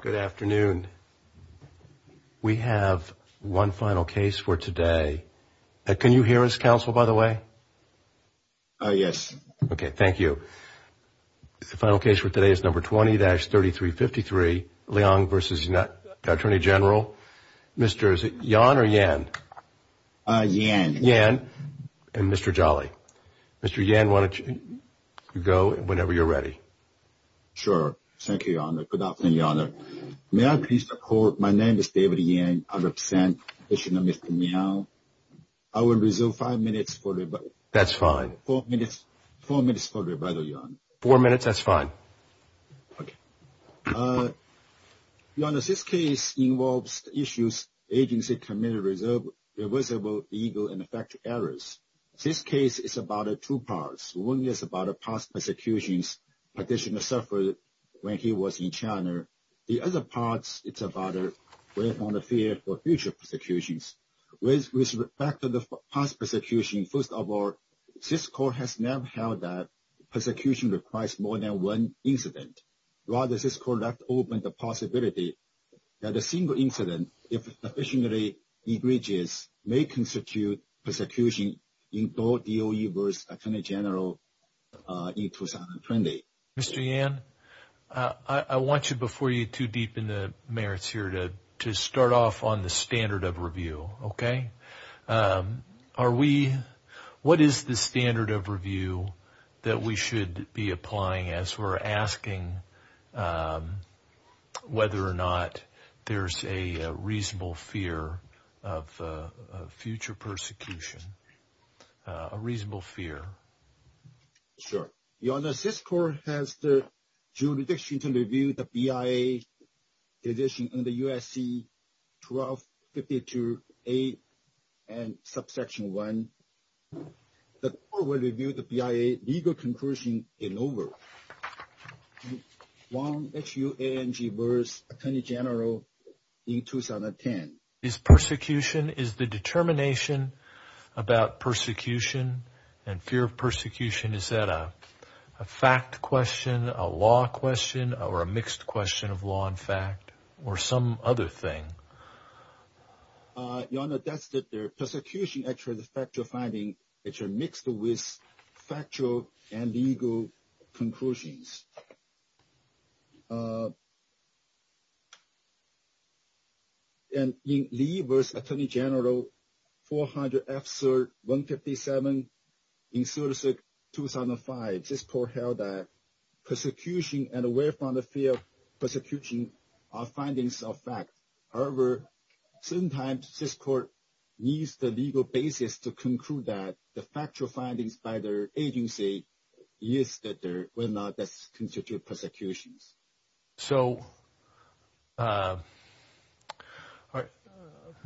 Good afternoon. We have one final case for today. Can you hear us, counsel, by the way? Yes. Okay, thank you. The final case for today is number 20-3353, Leong v. Attorney General. Mr. Yan or Yan? Yan. Yan and Mr. Jolly. Mr. Yan, why don't you go whenever you're ready. Sure. Thank you, Your Honor. Good afternoon, Your Honor. May I please report my name is David Yan. I represent the commission of Mr. Miao. I will reserve five minutes for rebuttal. Four minutes for rebuttal, Your Honor. Four minutes, that's fine. Okay. Your Honor, this case involves issues agency committed reversible legal and effective errors. This case is about two parts. One is about a past persecution petitioner suffered when he was in China. The other part is about the fear for future persecutions. With respect to the past persecution, first of all, this court has never held that persecution requires more than one incident. Rather, this court left open the possibility that a single incident, if sufficiently egregious, may constitute persecution in both DOE v. Attorney General in 2020. Mr. Yan, I want you before you to deepen the merits here to start off on the standard of review, okay? What is the standard of review that we should be applying as we're asking whether or not there's a reasonable fear of future persecution? A reasonable fear. Sure. Your Honor, this court has the jurisdiction to review the BIA petition under USC 1252A and subsection 1. The court will review the BIA legal conclusion in over. Wong, H-U-A-N-G, v. Attorney General in 2010. Is persecution, is the determination about persecution and fear of persecution, is that a fact question, a law question, or a mixed question of law and fact, or some other thing? Your Honor, that's the persecution, actually, the factual finding, which are mixed with factual and legal conclusions. And in Lee v. Attorney General, 400 F-3rd 157, in 2006-2005, this court held that persecution and aware from the fear of persecution are findings of fact. However, sometimes this court needs the legal basis to conclude that the factual findings by their agency is that there were not constituted persecutions. So,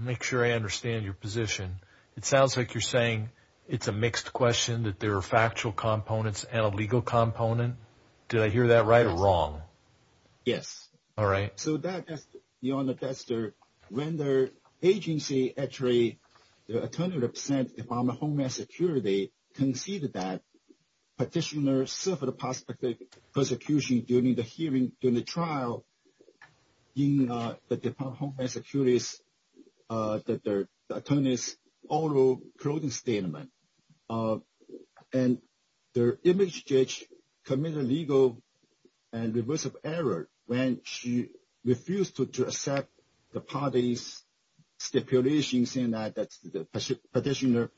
make sure I understand your position. It sounds like you're saying it's a mixed question, that there are factual components and a legal component. Did I hear that right or wrong? Yes. All right. So that, Your Honor, that's the vendor agency, actually, the Attorney General's Department of Homeland Security, conceded that petitioner suffered a possible persecution during the hearing, during the trial in the Department of Homeland Security's Attorney's Oral Closing Statement. And their image judge committed legal and reversive error when she refused to accept the parties' stipulations in that the petitioner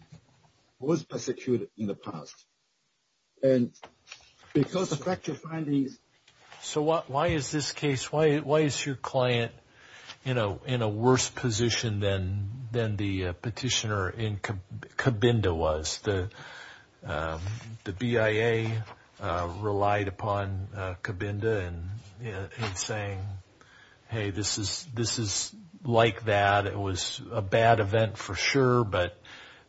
was persecuted in the past. And because of factual findings. So why is this case, why is your client in a worse position than the petitioner in Cabinda was? Because the BIA relied upon Cabinda in saying, hey, this is like that. It was a bad event for sure, but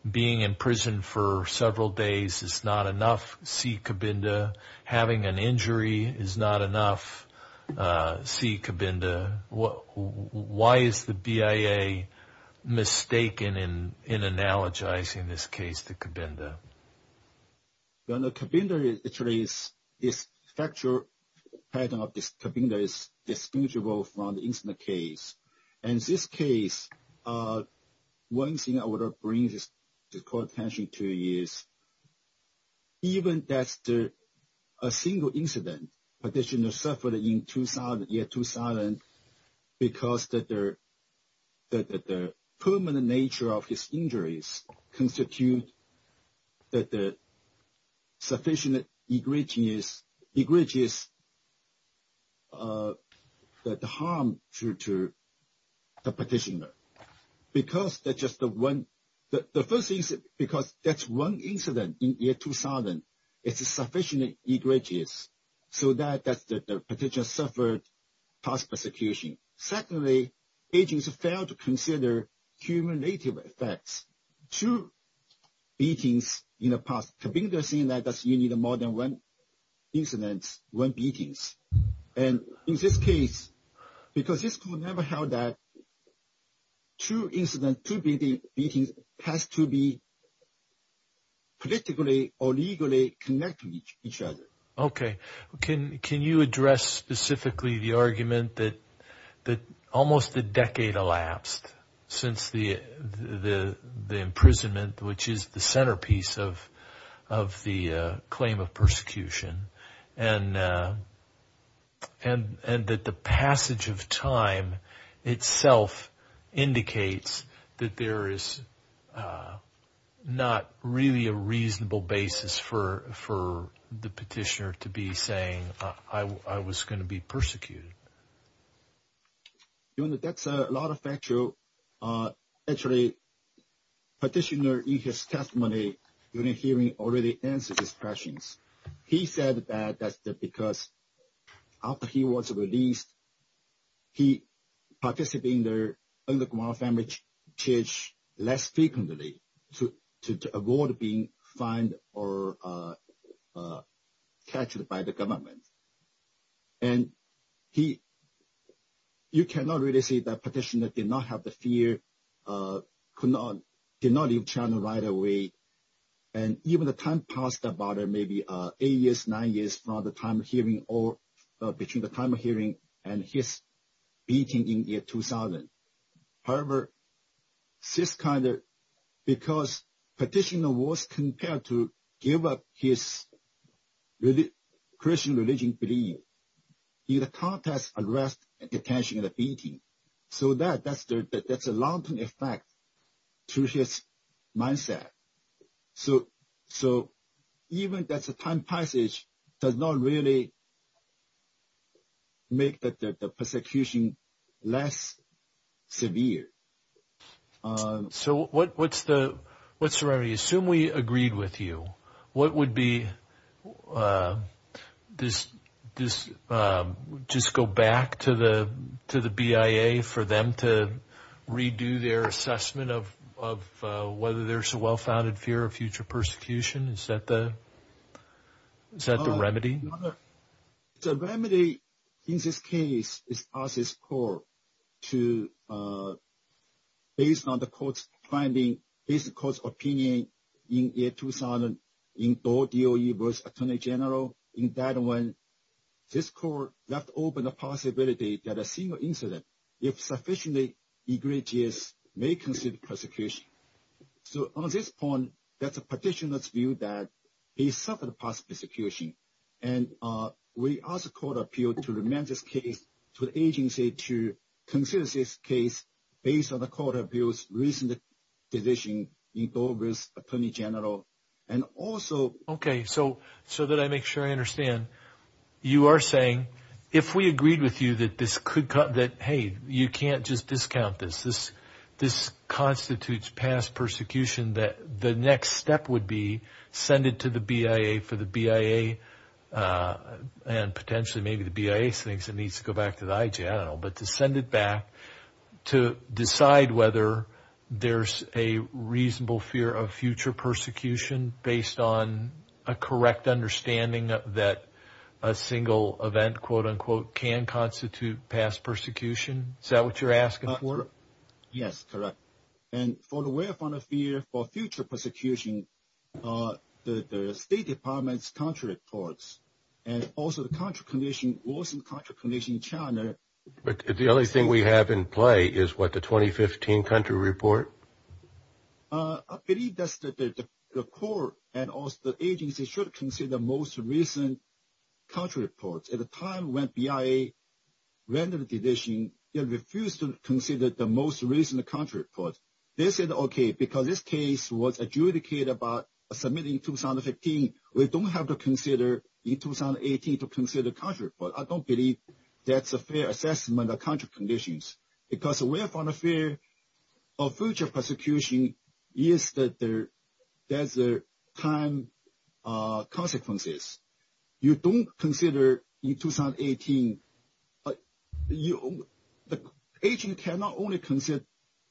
being in prison for several days is not enough. See Cabinda. Having an injury is not enough. See Cabinda. Why is the BIA mistaken in analogizing this case to Cabinda? Your Honor, Cabinda is actually, this factual pattern of Cabinda is distinguishable from the incident case. And this case, one thing I want to bring this court attention to is even that a single incident petitioner suffered in 2000, because the permanent nature of his injuries constitute sufficient egregious harm to the petitioner. The first is because that's one incident in year 2000. It's sufficiently egregious so that the petitioner suffered past persecution. Secondly, agents failed to consider cumulative effects. Two beatings in the past. Cabinda is saying that you need more than one incident, one beating. And in this case, because this court never held that two incidents, two beatings has to be politically or legally connected to each other. Okay. Can you address specifically the argument that almost a decade elapsed since the imprisonment, which is the centerpiece of the claim of persecution? And that the passage of time itself indicates that there is not really a reasonable basis for the petitioner to be saying I was going to be persecuted. Your Honor, that's a lot of factual. Actually, petitioner in his testimony during hearing already answered his questions. He said that because after he was released, he participated in the underground family church less frequently to avoid being fined or captured by the government. And you cannot really say that petitioner did not have the fear, could not leave China right away. And even the time passed about maybe eight years, nine years from the time of hearing or between the time of hearing and his beating in year 2000. However, this kind of, because petitioner was compelled to give up his Christian religion belief. In the context of arrest and detention and the beating. So that's a long-term effect to his mindset. So even just the time passage does not really make the persecution less severe. So what's the remedy? Assume we agreed with you. What would be, just go back to the BIA for them to redo their assessment of whether there's a well-founded fear of future persecution? Is that the remedy? The remedy in this case is process court to, based on the court's finding, based on the court's opinion in year 2000 in DOE versus Attorney General. In that one, this court left open the possibility that a single incident, if sufficiently egregious, may consider persecution. So on this point, that's a petitioner's view that he suffered a possible persecution. And we ask the court of appeal to amend this case to the agency to consider this case based on the court of appeal's recent decision in DOE versus Attorney General. Okay, so that I make sure I understand. You are saying, if we agreed with you that this could come, that, hey, you can't just discount this. This constitutes past persecution, that the next step would be send it to the BIA for the BIA and potentially maybe the BIA thinks it needs to go back to the IG. I don't know, but to send it back to decide whether there's a reasonable fear of future persecution based on a correct understanding that a single event, quote, unquote, can constitute past persecution. Is that what you're asking for? Yes, correct. But the only thing we have in play is what, the 2015 country report? I believe that the court and also the agency should consider most recent country reports. At the time when BIA rendered the petition, they refused to consider the most recent country report. They said, okay, because this case was adjudicated by submitting 2015, we don't have to consider in 2018 to consider country report. I don't believe that's a fair assessment of country conditions, because we have found a fear of future persecution is that there's time consequences. You don't consider in 2018. The agency cannot only consider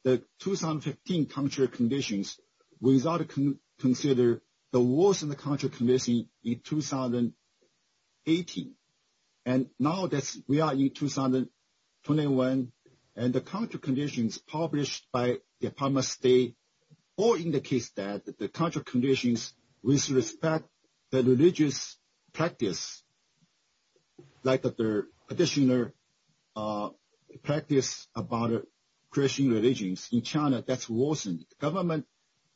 the 2015 country conditions without considering the worst in the country conditions in 2018. And now that we are in 2021, and the country conditions published by Department of State all indicates that the country conditions with respect to religious practice, like the petitioner practice about Christian religions in China, that's worsened. The government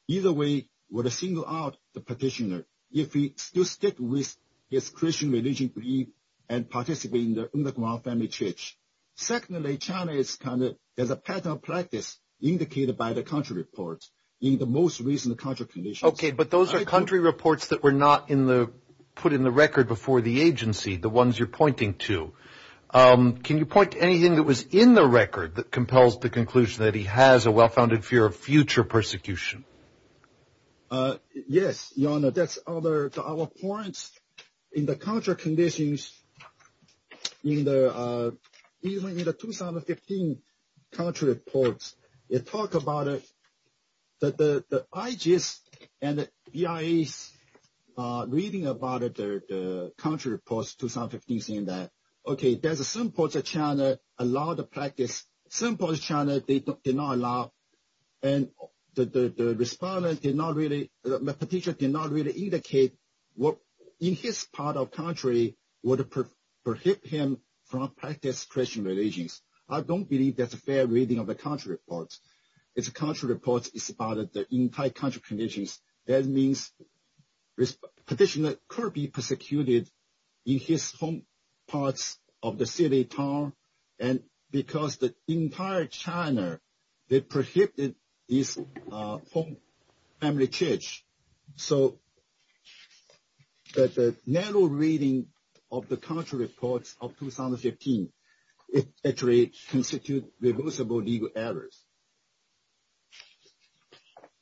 either way would have singled out the petitioner if he still stick with his Christian religion and participate in the underground family church. Secondly, China has a pattern of practice indicated by the country report in the most recent country conditions. Okay, but those are country reports that were not put in the record before the agency, the ones you're pointing to. Can you point to anything that was in the record that compels the conclusion that he has a well-founded fear of future persecution? Yes, Your Honor, that's our points. In the country conditions, even in the 2015 country reports, it talks about the IGs and the VIAs reading about the country reports 2015 saying that, okay, there's some parts of China allow the practice. Some parts of China did not allow, and the petitioner did not really indicate what in his part of country would prohibit him from practice Christian religions. I don't believe that's a fair reading of the country reports. It's a country report, it's about the entire country conditions. That means petitioner could be persecuted in his home parts of the city, town, and because the entire China, they prohibited his home family church. So, the narrow reading of the country reports of 2015, it actually constitutes reversible legal errors.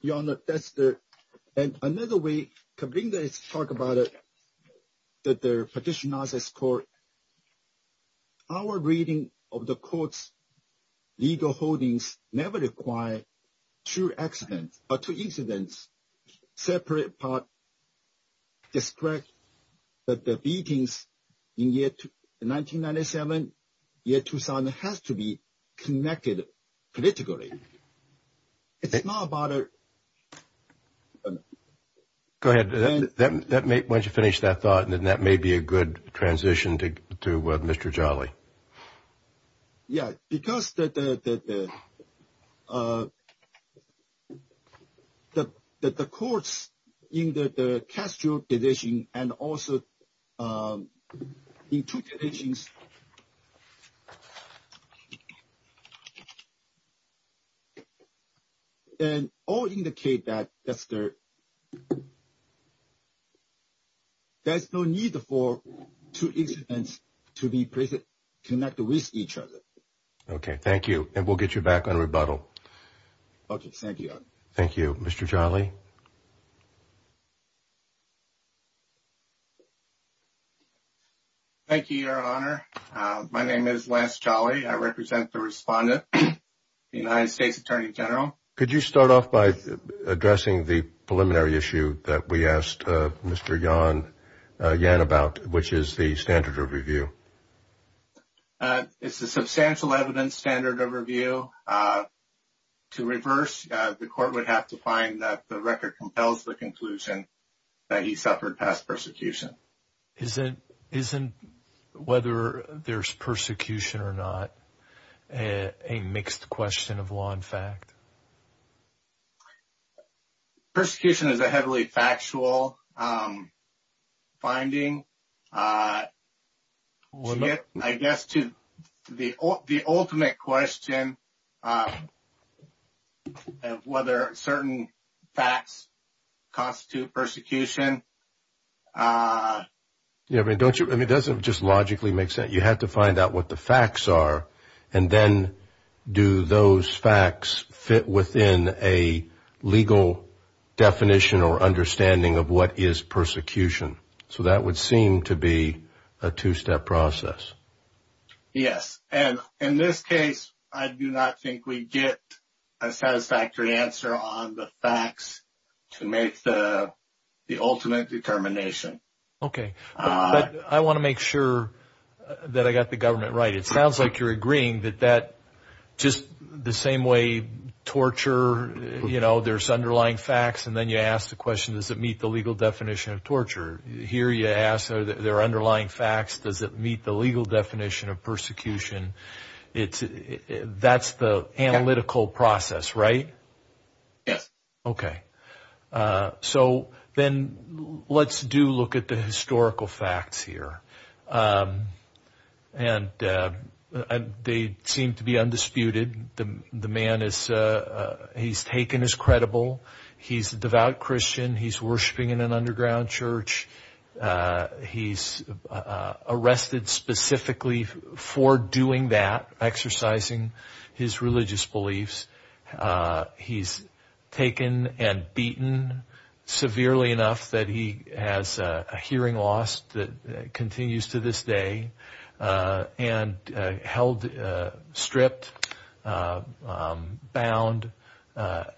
Your Honor, that's the — and another way to bring this, talk about it, that the petitioner's court, our reading of the court's legal holdings never required two accidents or two incidents. That's a separate part. It's correct that the beatings in 1997, year 2000 has to be connected politically. It's not about a — Go ahead. Why don't you finish that thought, and then that may be a good transition to Mr. Jolly. Yeah, because the courts in the Castro division and also in two divisions all indicate that there's no need for two incidents to be present. Okay, thank you. And we'll get you back on rebuttal. Okay, thank you. Thank you. Mr. Jolly. Thank you, Your Honor. My name is Lance Jolly. I represent the respondent, the United States Attorney General. Could you start off by addressing the preliminary issue that we asked Mr. Yan about, which is the standard of review? It's a substantial evidence standard of review. To reverse, the court would have to find that the record compels the conclusion that he suffered past persecution. Isn't whether there's persecution or not a mixed question of law and fact? Persecution is a heavily factual finding. I guess to the ultimate question of whether certain facts constitute persecution. Yeah, I mean, doesn't it just logically make sense? You have to find out what the facts are, and then do those facts fit within a legal definition or understanding of what is persecution? So that would seem to be a two-step process. Yes. And in this case, I do not think we get a satisfactory answer on the facts to make the ultimate determination. Okay. But I want to make sure that I got the government right. It sounds like you're agreeing that just the same way torture, you know, there's underlying facts, and then you ask the question, does it meet the legal definition of torture? Here you ask, are there underlying facts? Does it meet the legal definition of persecution? That's the analytical process, right? Yes. Okay. So then let's do look at the historical facts here. And they seem to be undisputed. The man is, he's taken as credible. He's a devout Christian. He's worshiping in an underground church. He's arrested specifically for doing that, exercising his religious beliefs. He's taken and beaten severely enough that he has a hearing loss that continues to this day, and held stripped, bound,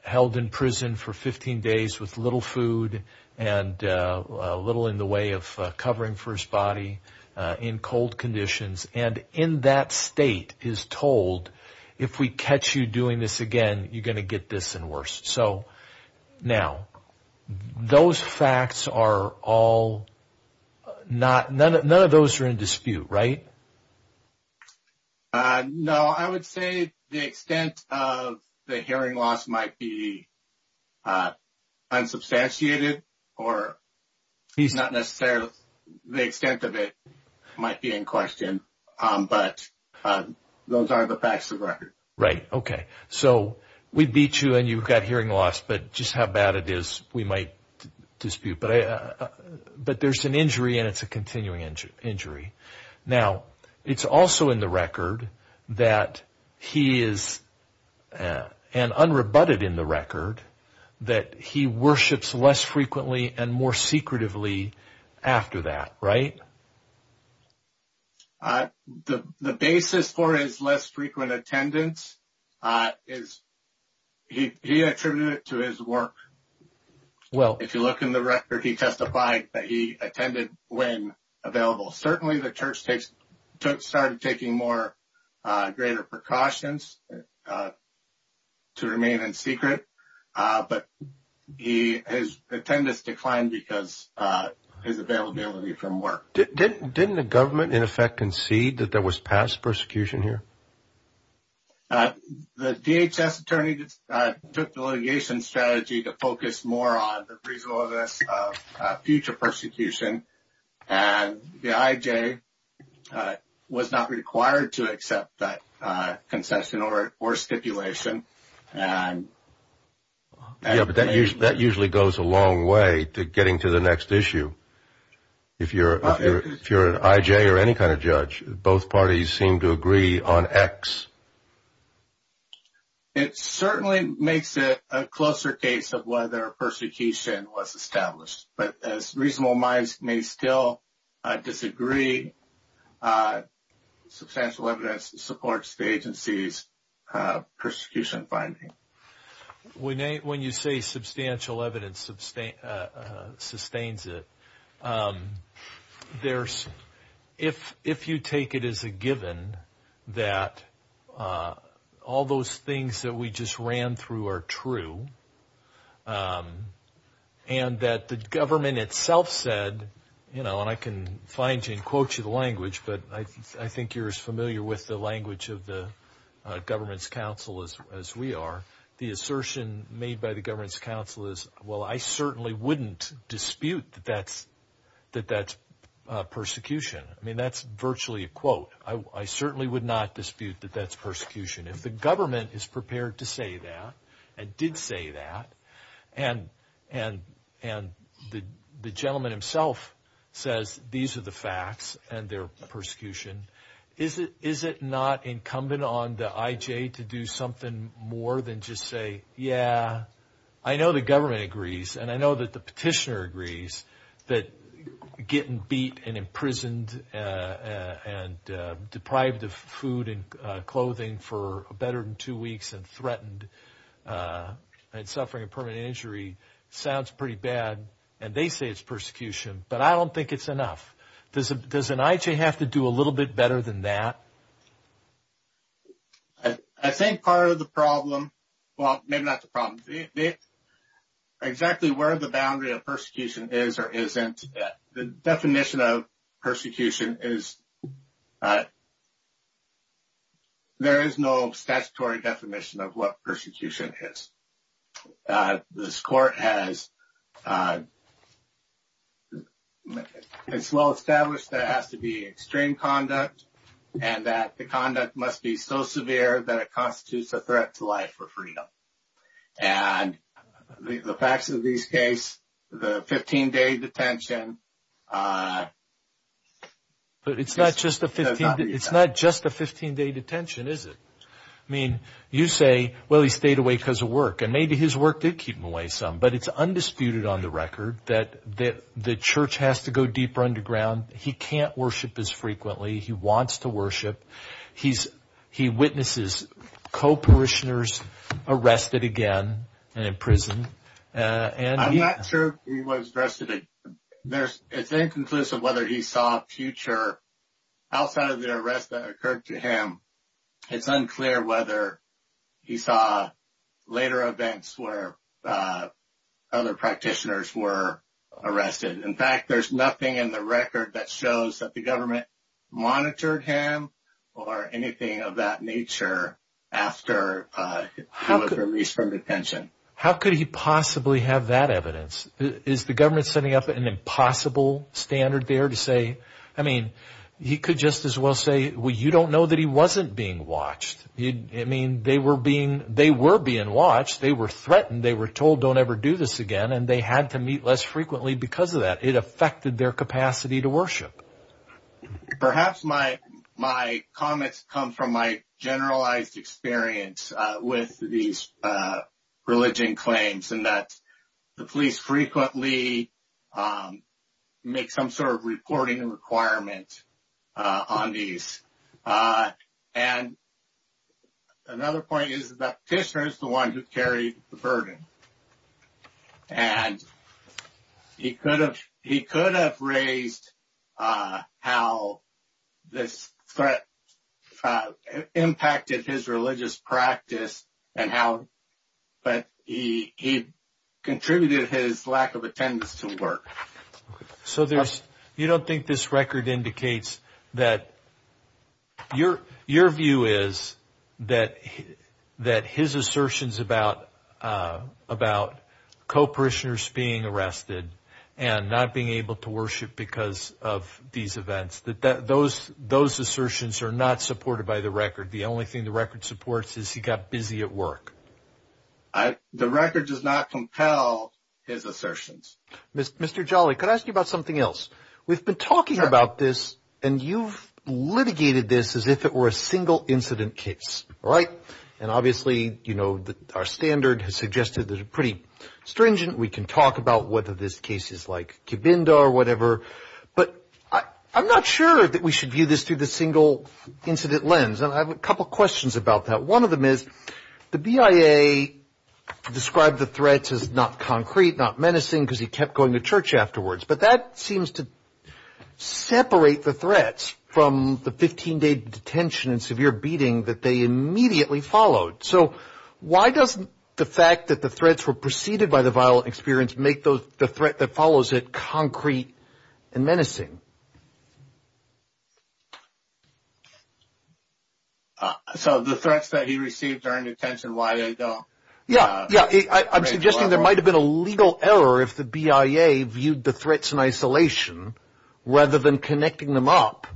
held in prison for 15 days with little food and little in the way of covering for his body in cold conditions. And in that state is told, if we catch you doing this again, you're going to get this and worse. So now, those facts are all not, none of those are in dispute, right? No, I would say the extent of the hearing loss might be unsubstantiated or not necessarily, the extent of it might be in question, but those are the facts of the record. Right, okay. So we beat you and you've got hearing loss, but just how bad it is, we might dispute. But there's an injury and it's a continuing injury. Now, it's also in the record that he is, and unrebutted in the record, that he worships less frequently and more secretively after that, right? The basis for his less frequent attendance is he attributed it to his work. Well, if you look in the record, he testified that he attended when available. Certainly, the church started taking more greater precautions to remain in secret, but his attendance declined because of his availability from work. Didn't the government, in effect, concede that there was past persecution here? The DHS attorney took the litigation strategy to focus more on the reasonableness of future persecution, and the IJ was not required to accept that concession or stipulation. Yeah, but that usually goes a long way to getting to the next issue. If you're an IJ or any kind of judge, both parties seem to agree on X. It certainly makes it a closer case of whether persecution was established. But as reasonable minds may still disagree, substantial evidence supports the agency's persecution finding. When you say substantial evidence sustains it, if you take it as a given that all those things that we just ran through are true, and that the government itself said, and I can find you and quote you the language, but I think you're as familiar with the language of the government's counsel as we are, the assertion made by the government's counsel is, well, I certainly wouldn't dispute that that's persecution. I mean, that's virtually a quote. I certainly would not dispute that that's persecution. If the government is prepared to say that and did say that, and the gentleman himself says these are the facts and they're persecution, is it not incumbent on the IJ to do something more than just say, yeah, I know the government agrees, and I know that the petitioner agrees that getting beat and imprisoned and deprived of food and clothing for better than two weeks and threatened and suffering a permanent injury sounds pretty bad, and they say it's persecution, but I don't think it's enough. Does an IJ have to do a little bit better than that? I think part of the problem, well, maybe not the problem, exactly where the boundary of persecution is or isn't, the definition of persecution is there is no statutory definition of what persecution is. This court has well established that it has to be extreme conduct and that the conduct must be so severe that it constitutes a threat to life or freedom. And the facts of this case, the 15-day detention. But it's not just a 15-day detention, is it? I mean, you say, well, he stayed away because of work, and maybe his work did keep him away some, but it's undisputed on the record that the church has to go deeper underground. He can't worship as frequently. He wants to worship. He witnesses co-parishioners arrested again and imprisoned. I'm not sure he was arrested again. It's inconclusive whether he saw a future outside of the arrest that occurred to him. It's unclear whether he saw later events where other practitioners were arrested. In fact, there's nothing in the record that shows that the government monitored him or anything of that nature after he was released from detention. How could he possibly have that evidence? Is the government setting up an impossible standard there to say, I mean, he could just as well say, well, you don't know that he wasn't being watched. I mean, they were being watched. They were threatened. They were told don't ever do this again, and they had to meet less frequently because of that. It affected their capacity to worship. Perhaps my comments come from my generalized experience with these religion claims and that the police frequently make some sort of reporting requirement on these. And another point is that Kishner is the one who carried the burden, and he could have raised how this threat impacted his religious practice and how he contributed his lack of attendance to work. So you don't think this record indicates that your view is that his assertions about co-parishioners being arrested and not being able to worship because of these events, those assertions are not supported by the record. The only thing the record supports is he got busy at work. The record does not compel his assertions. Mr. Jolly, could I ask you about something else? We've been talking about this, and you've litigated this as if it were a single incident case, right? And obviously, you know, our standard has suggested that it's pretty stringent. We can talk about whether this case is like Cabinda or whatever, but I'm not sure that we should view this through the single incident lens, and I have a couple questions about that. One of them is the BIA described the threats as not concrete, not menacing, because he kept going to church afterwards, but that seems to separate the threats from the 15-day detention and severe beating that they immediately followed. So why doesn't the fact that the threats were preceded by the violent experience make the threat that follows it concrete and menacing? So the threats that he received during detention, why they don't? Yeah, yeah. I'm suggesting there might have been a legal error if the BIA viewed the threats in isolation rather than connecting them up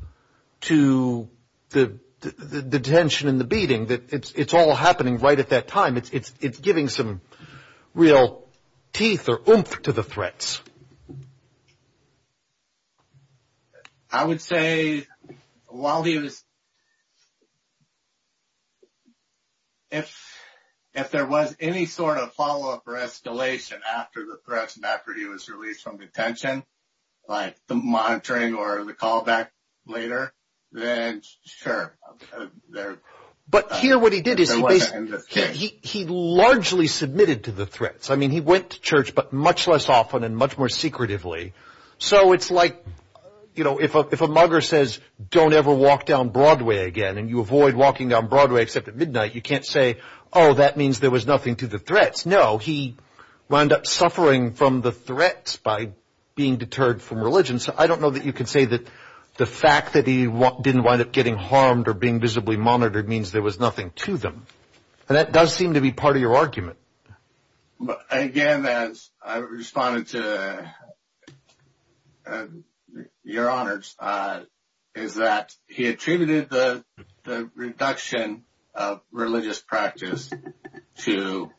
to the detention and the beating. It's all happening right at that time. It's giving some real teeth or oomph to the threats. I would say if there was any sort of follow-up or escalation after the threats and after he was released from detention, like the monitoring or the callback later, then sure. But here what he did is he largely submitted to the threats. I mean, he went to church, but much less often and much less often. So it's like if a mugger says, don't ever walk down Broadway again and you avoid walking down Broadway except at midnight, you can't say, oh, that means there was nothing to the threats. No, he wound up suffering from the threats by being deterred from religion. So I don't know that you could say that the fact that he didn't wind up getting harmed or being visibly monitored means there was nothing to them. And that does seem to be part of your argument. Again, as I responded to your honors, is that he attributed the reduction of religious practice to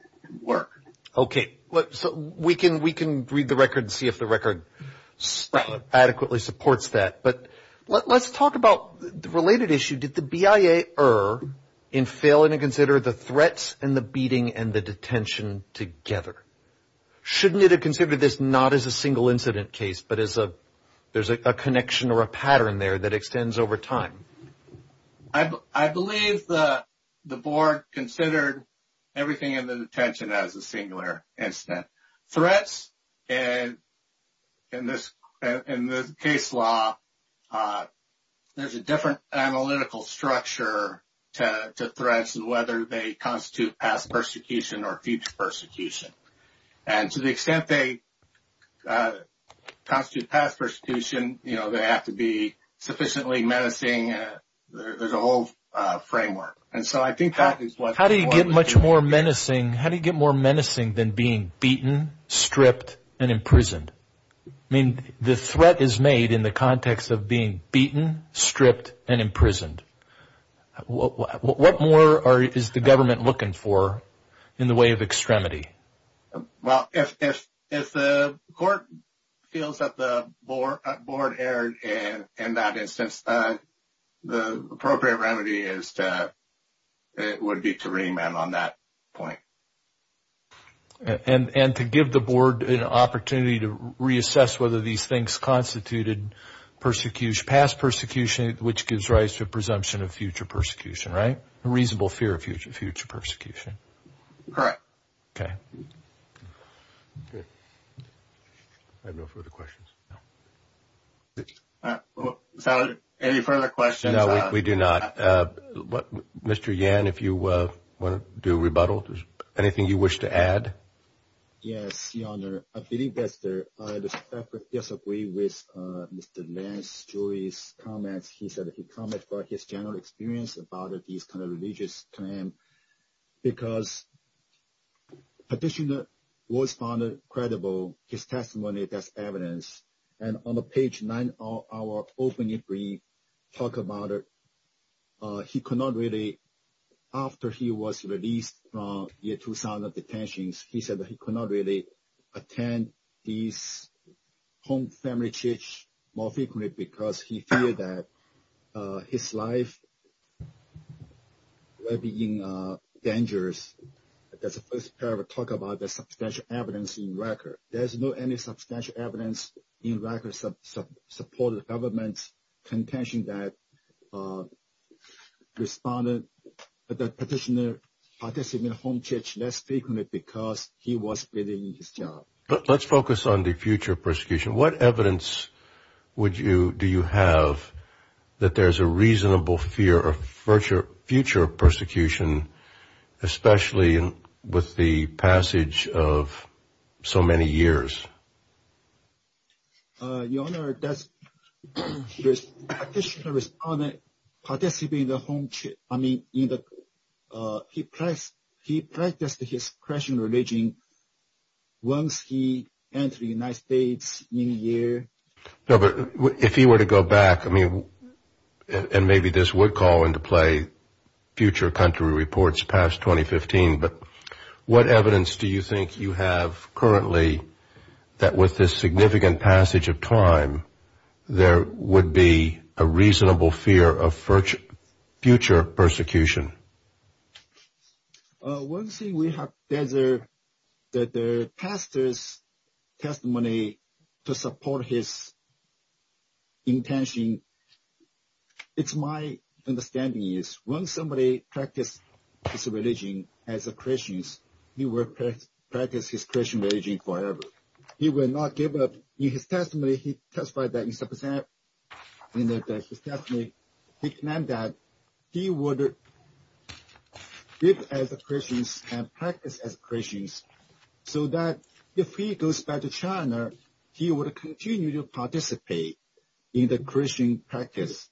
work. Okay. So we can read the record and see if the record adequately supports that. But let's talk about the related issue. Did the BIA err in failing to consider the threats and the beating and the detention together? Shouldn't it have considered this not as a single incident case, but as there's a connection or a pattern there that extends over time? I believe the board considered everything in the detention as a singular incident. Threats, in this case law, there's a different analytical structure to threats and whether they constitute past persecution or future persecution. And to the extent they constitute past persecution, they have to be sufficiently menacing. There's a whole framework. How do you get more menacing than being beaten, stripped, and imprisoned? I mean, the threat is made in the context of being beaten, stripped, and imprisoned. What more is the government looking for in the way of extremity? Well, if the court feels that the board erred in that instance, the appropriate remedy would be to remand on that point. And to give the board an opportunity to reassess whether these things constituted past persecution, which gives rise to a presumption of future persecution, right? A reasonable fear of future persecution. Correct. Okay. I have no further questions. Senator, any further questions? No, we do not. Mr. Yan, if you want to do a rebuttal. Anything you wish to add? Yes, Your Honor. I believe that I disagree with Mr. Lance, Julie's comments. He said that he commented about his general experience about these kinds of religious claims because the petitioner was found credible. His testimony is evidence. And on page 9 of our opening brief, he talked about it. He could not really, after he was released from year 2000 detentions, he said that he could not really attend these home family churches more frequently because he feared that his life would be in danger. That's the first part of the talk about the substantial evidence in record. There's not any substantial evidence in record supporting the government's contention that the petitioner participated in home church less frequently because he was doing his job. Let's focus on the future persecution. What evidence do you have that there's a reasonable fear of future persecution, especially with the passage of so many years? Your Honor, the petitioner participated in the home church. He practiced his Christian religion once he entered the United States in a year. No, but if he were to go back, and maybe this would call into play future country reports past 2015, but what evidence do you think you have currently that with this significant passage of time, there would be a reasonable fear of future persecution? One thing we have is that the pastor's testimony to support his intention, it's my understanding is once somebody practices his religion as a Christian, he will practice his Christian religion forever. He will not give up. In his testimony, he testified that he would live as a Christian and practice as a Christian so that if he goes back to China, he would continue to participate in the Christian practice.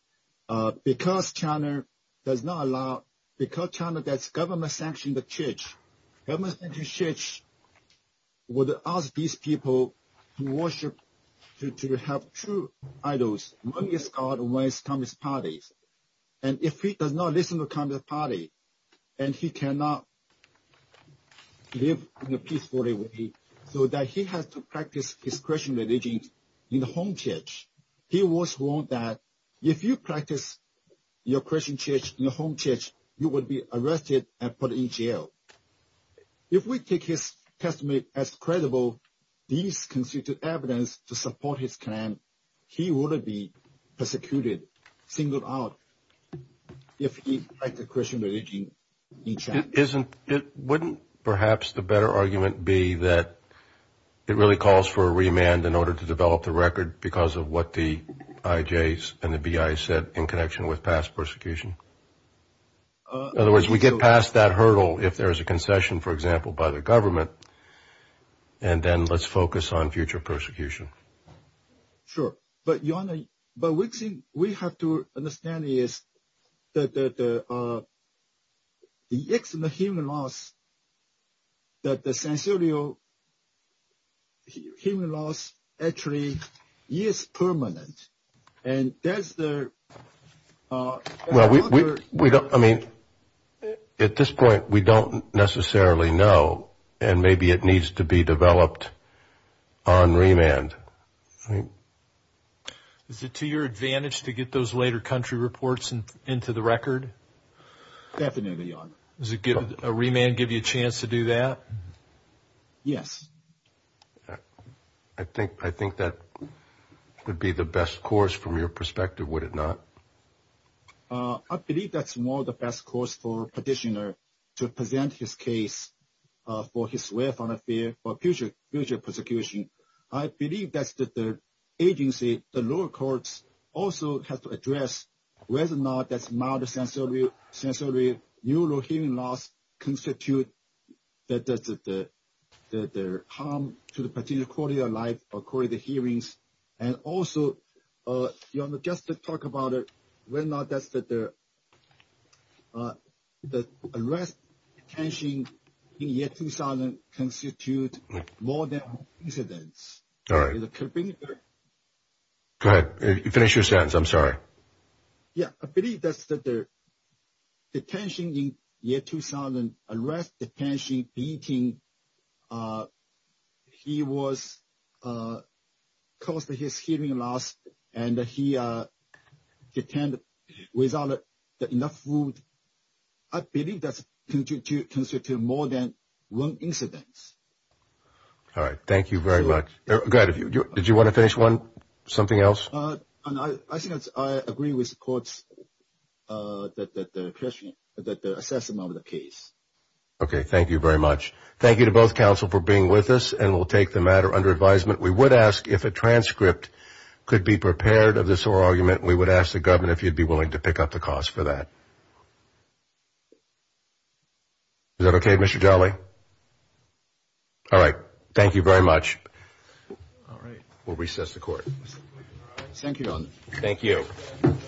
Because China does not allow, because China has government-sanctioned the church, government-sanctioned church would ask these people to worship, to have true idols. One is God, one is Communist Party. And if he does not listen to Communist Party, and he cannot live in a peaceful way, so that he has to practice his Christian religion in the home church, he was warned that if you practice your Christian church in the home church, you would be arrested and put in jail. If we take his testimony as credible, these constitute evidence to support his claim, he wouldn't be persecuted, singled out, if he practiced Christian religion in China. Wouldn't perhaps the better argument be that it really calls for a remand in order to develop the record because of what the IJs and the BI said in connection with past persecution? In other words, we get past that hurdle if there is a concession, for example, by the government, and then let's focus on future persecution. Sure, but Your Honor, what we have to understand is that the external human loss, that the sensorial human loss, actually is permanent. At this point, we don't necessarily know, and maybe it needs to be developed on remand. Is it to your advantage to get those later country reports into the record? Definitely, Your Honor. Does a remand give you a chance to do that? Yes. I think that would be the best course from your perspective, would it not? I believe that's more the best course for a petitioner to present his case for his willful affair for future persecution. I believe that the agency, the lower courts, also have to address whether or not that's not a sensorial human loss constitutes the harm to the petitioner's quality of life or quality of hearings. And also, Your Honor, just to talk about it, whether or not the arrest and detention in the year 2000 constitute more than coincidence. All right. Go ahead. Finish your sentence. I'm sorry. Yeah, I believe that the detention in year 2000, arrest, detention, beating, he caused his hearing loss, and he attended without enough food. I believe that constitutes more than one incidence. All right. Thank you very much. Go ahead. Did you want to finish something else? I think I agree with the courts that the assessment of the case. Okay. Thank you very much. Thank you to both counsel for being with us, and we'll take the matter under advisement. We would ask if a transcript could be prepared of this oral argument. We would ask the governor if you'd be willing to pick up the cost for that. Is that okay, Mr. Jolly? All right. Thank you very much. All right. We'll recess the court. Thank you. Thank you. Thank you. Thank you. Thank you.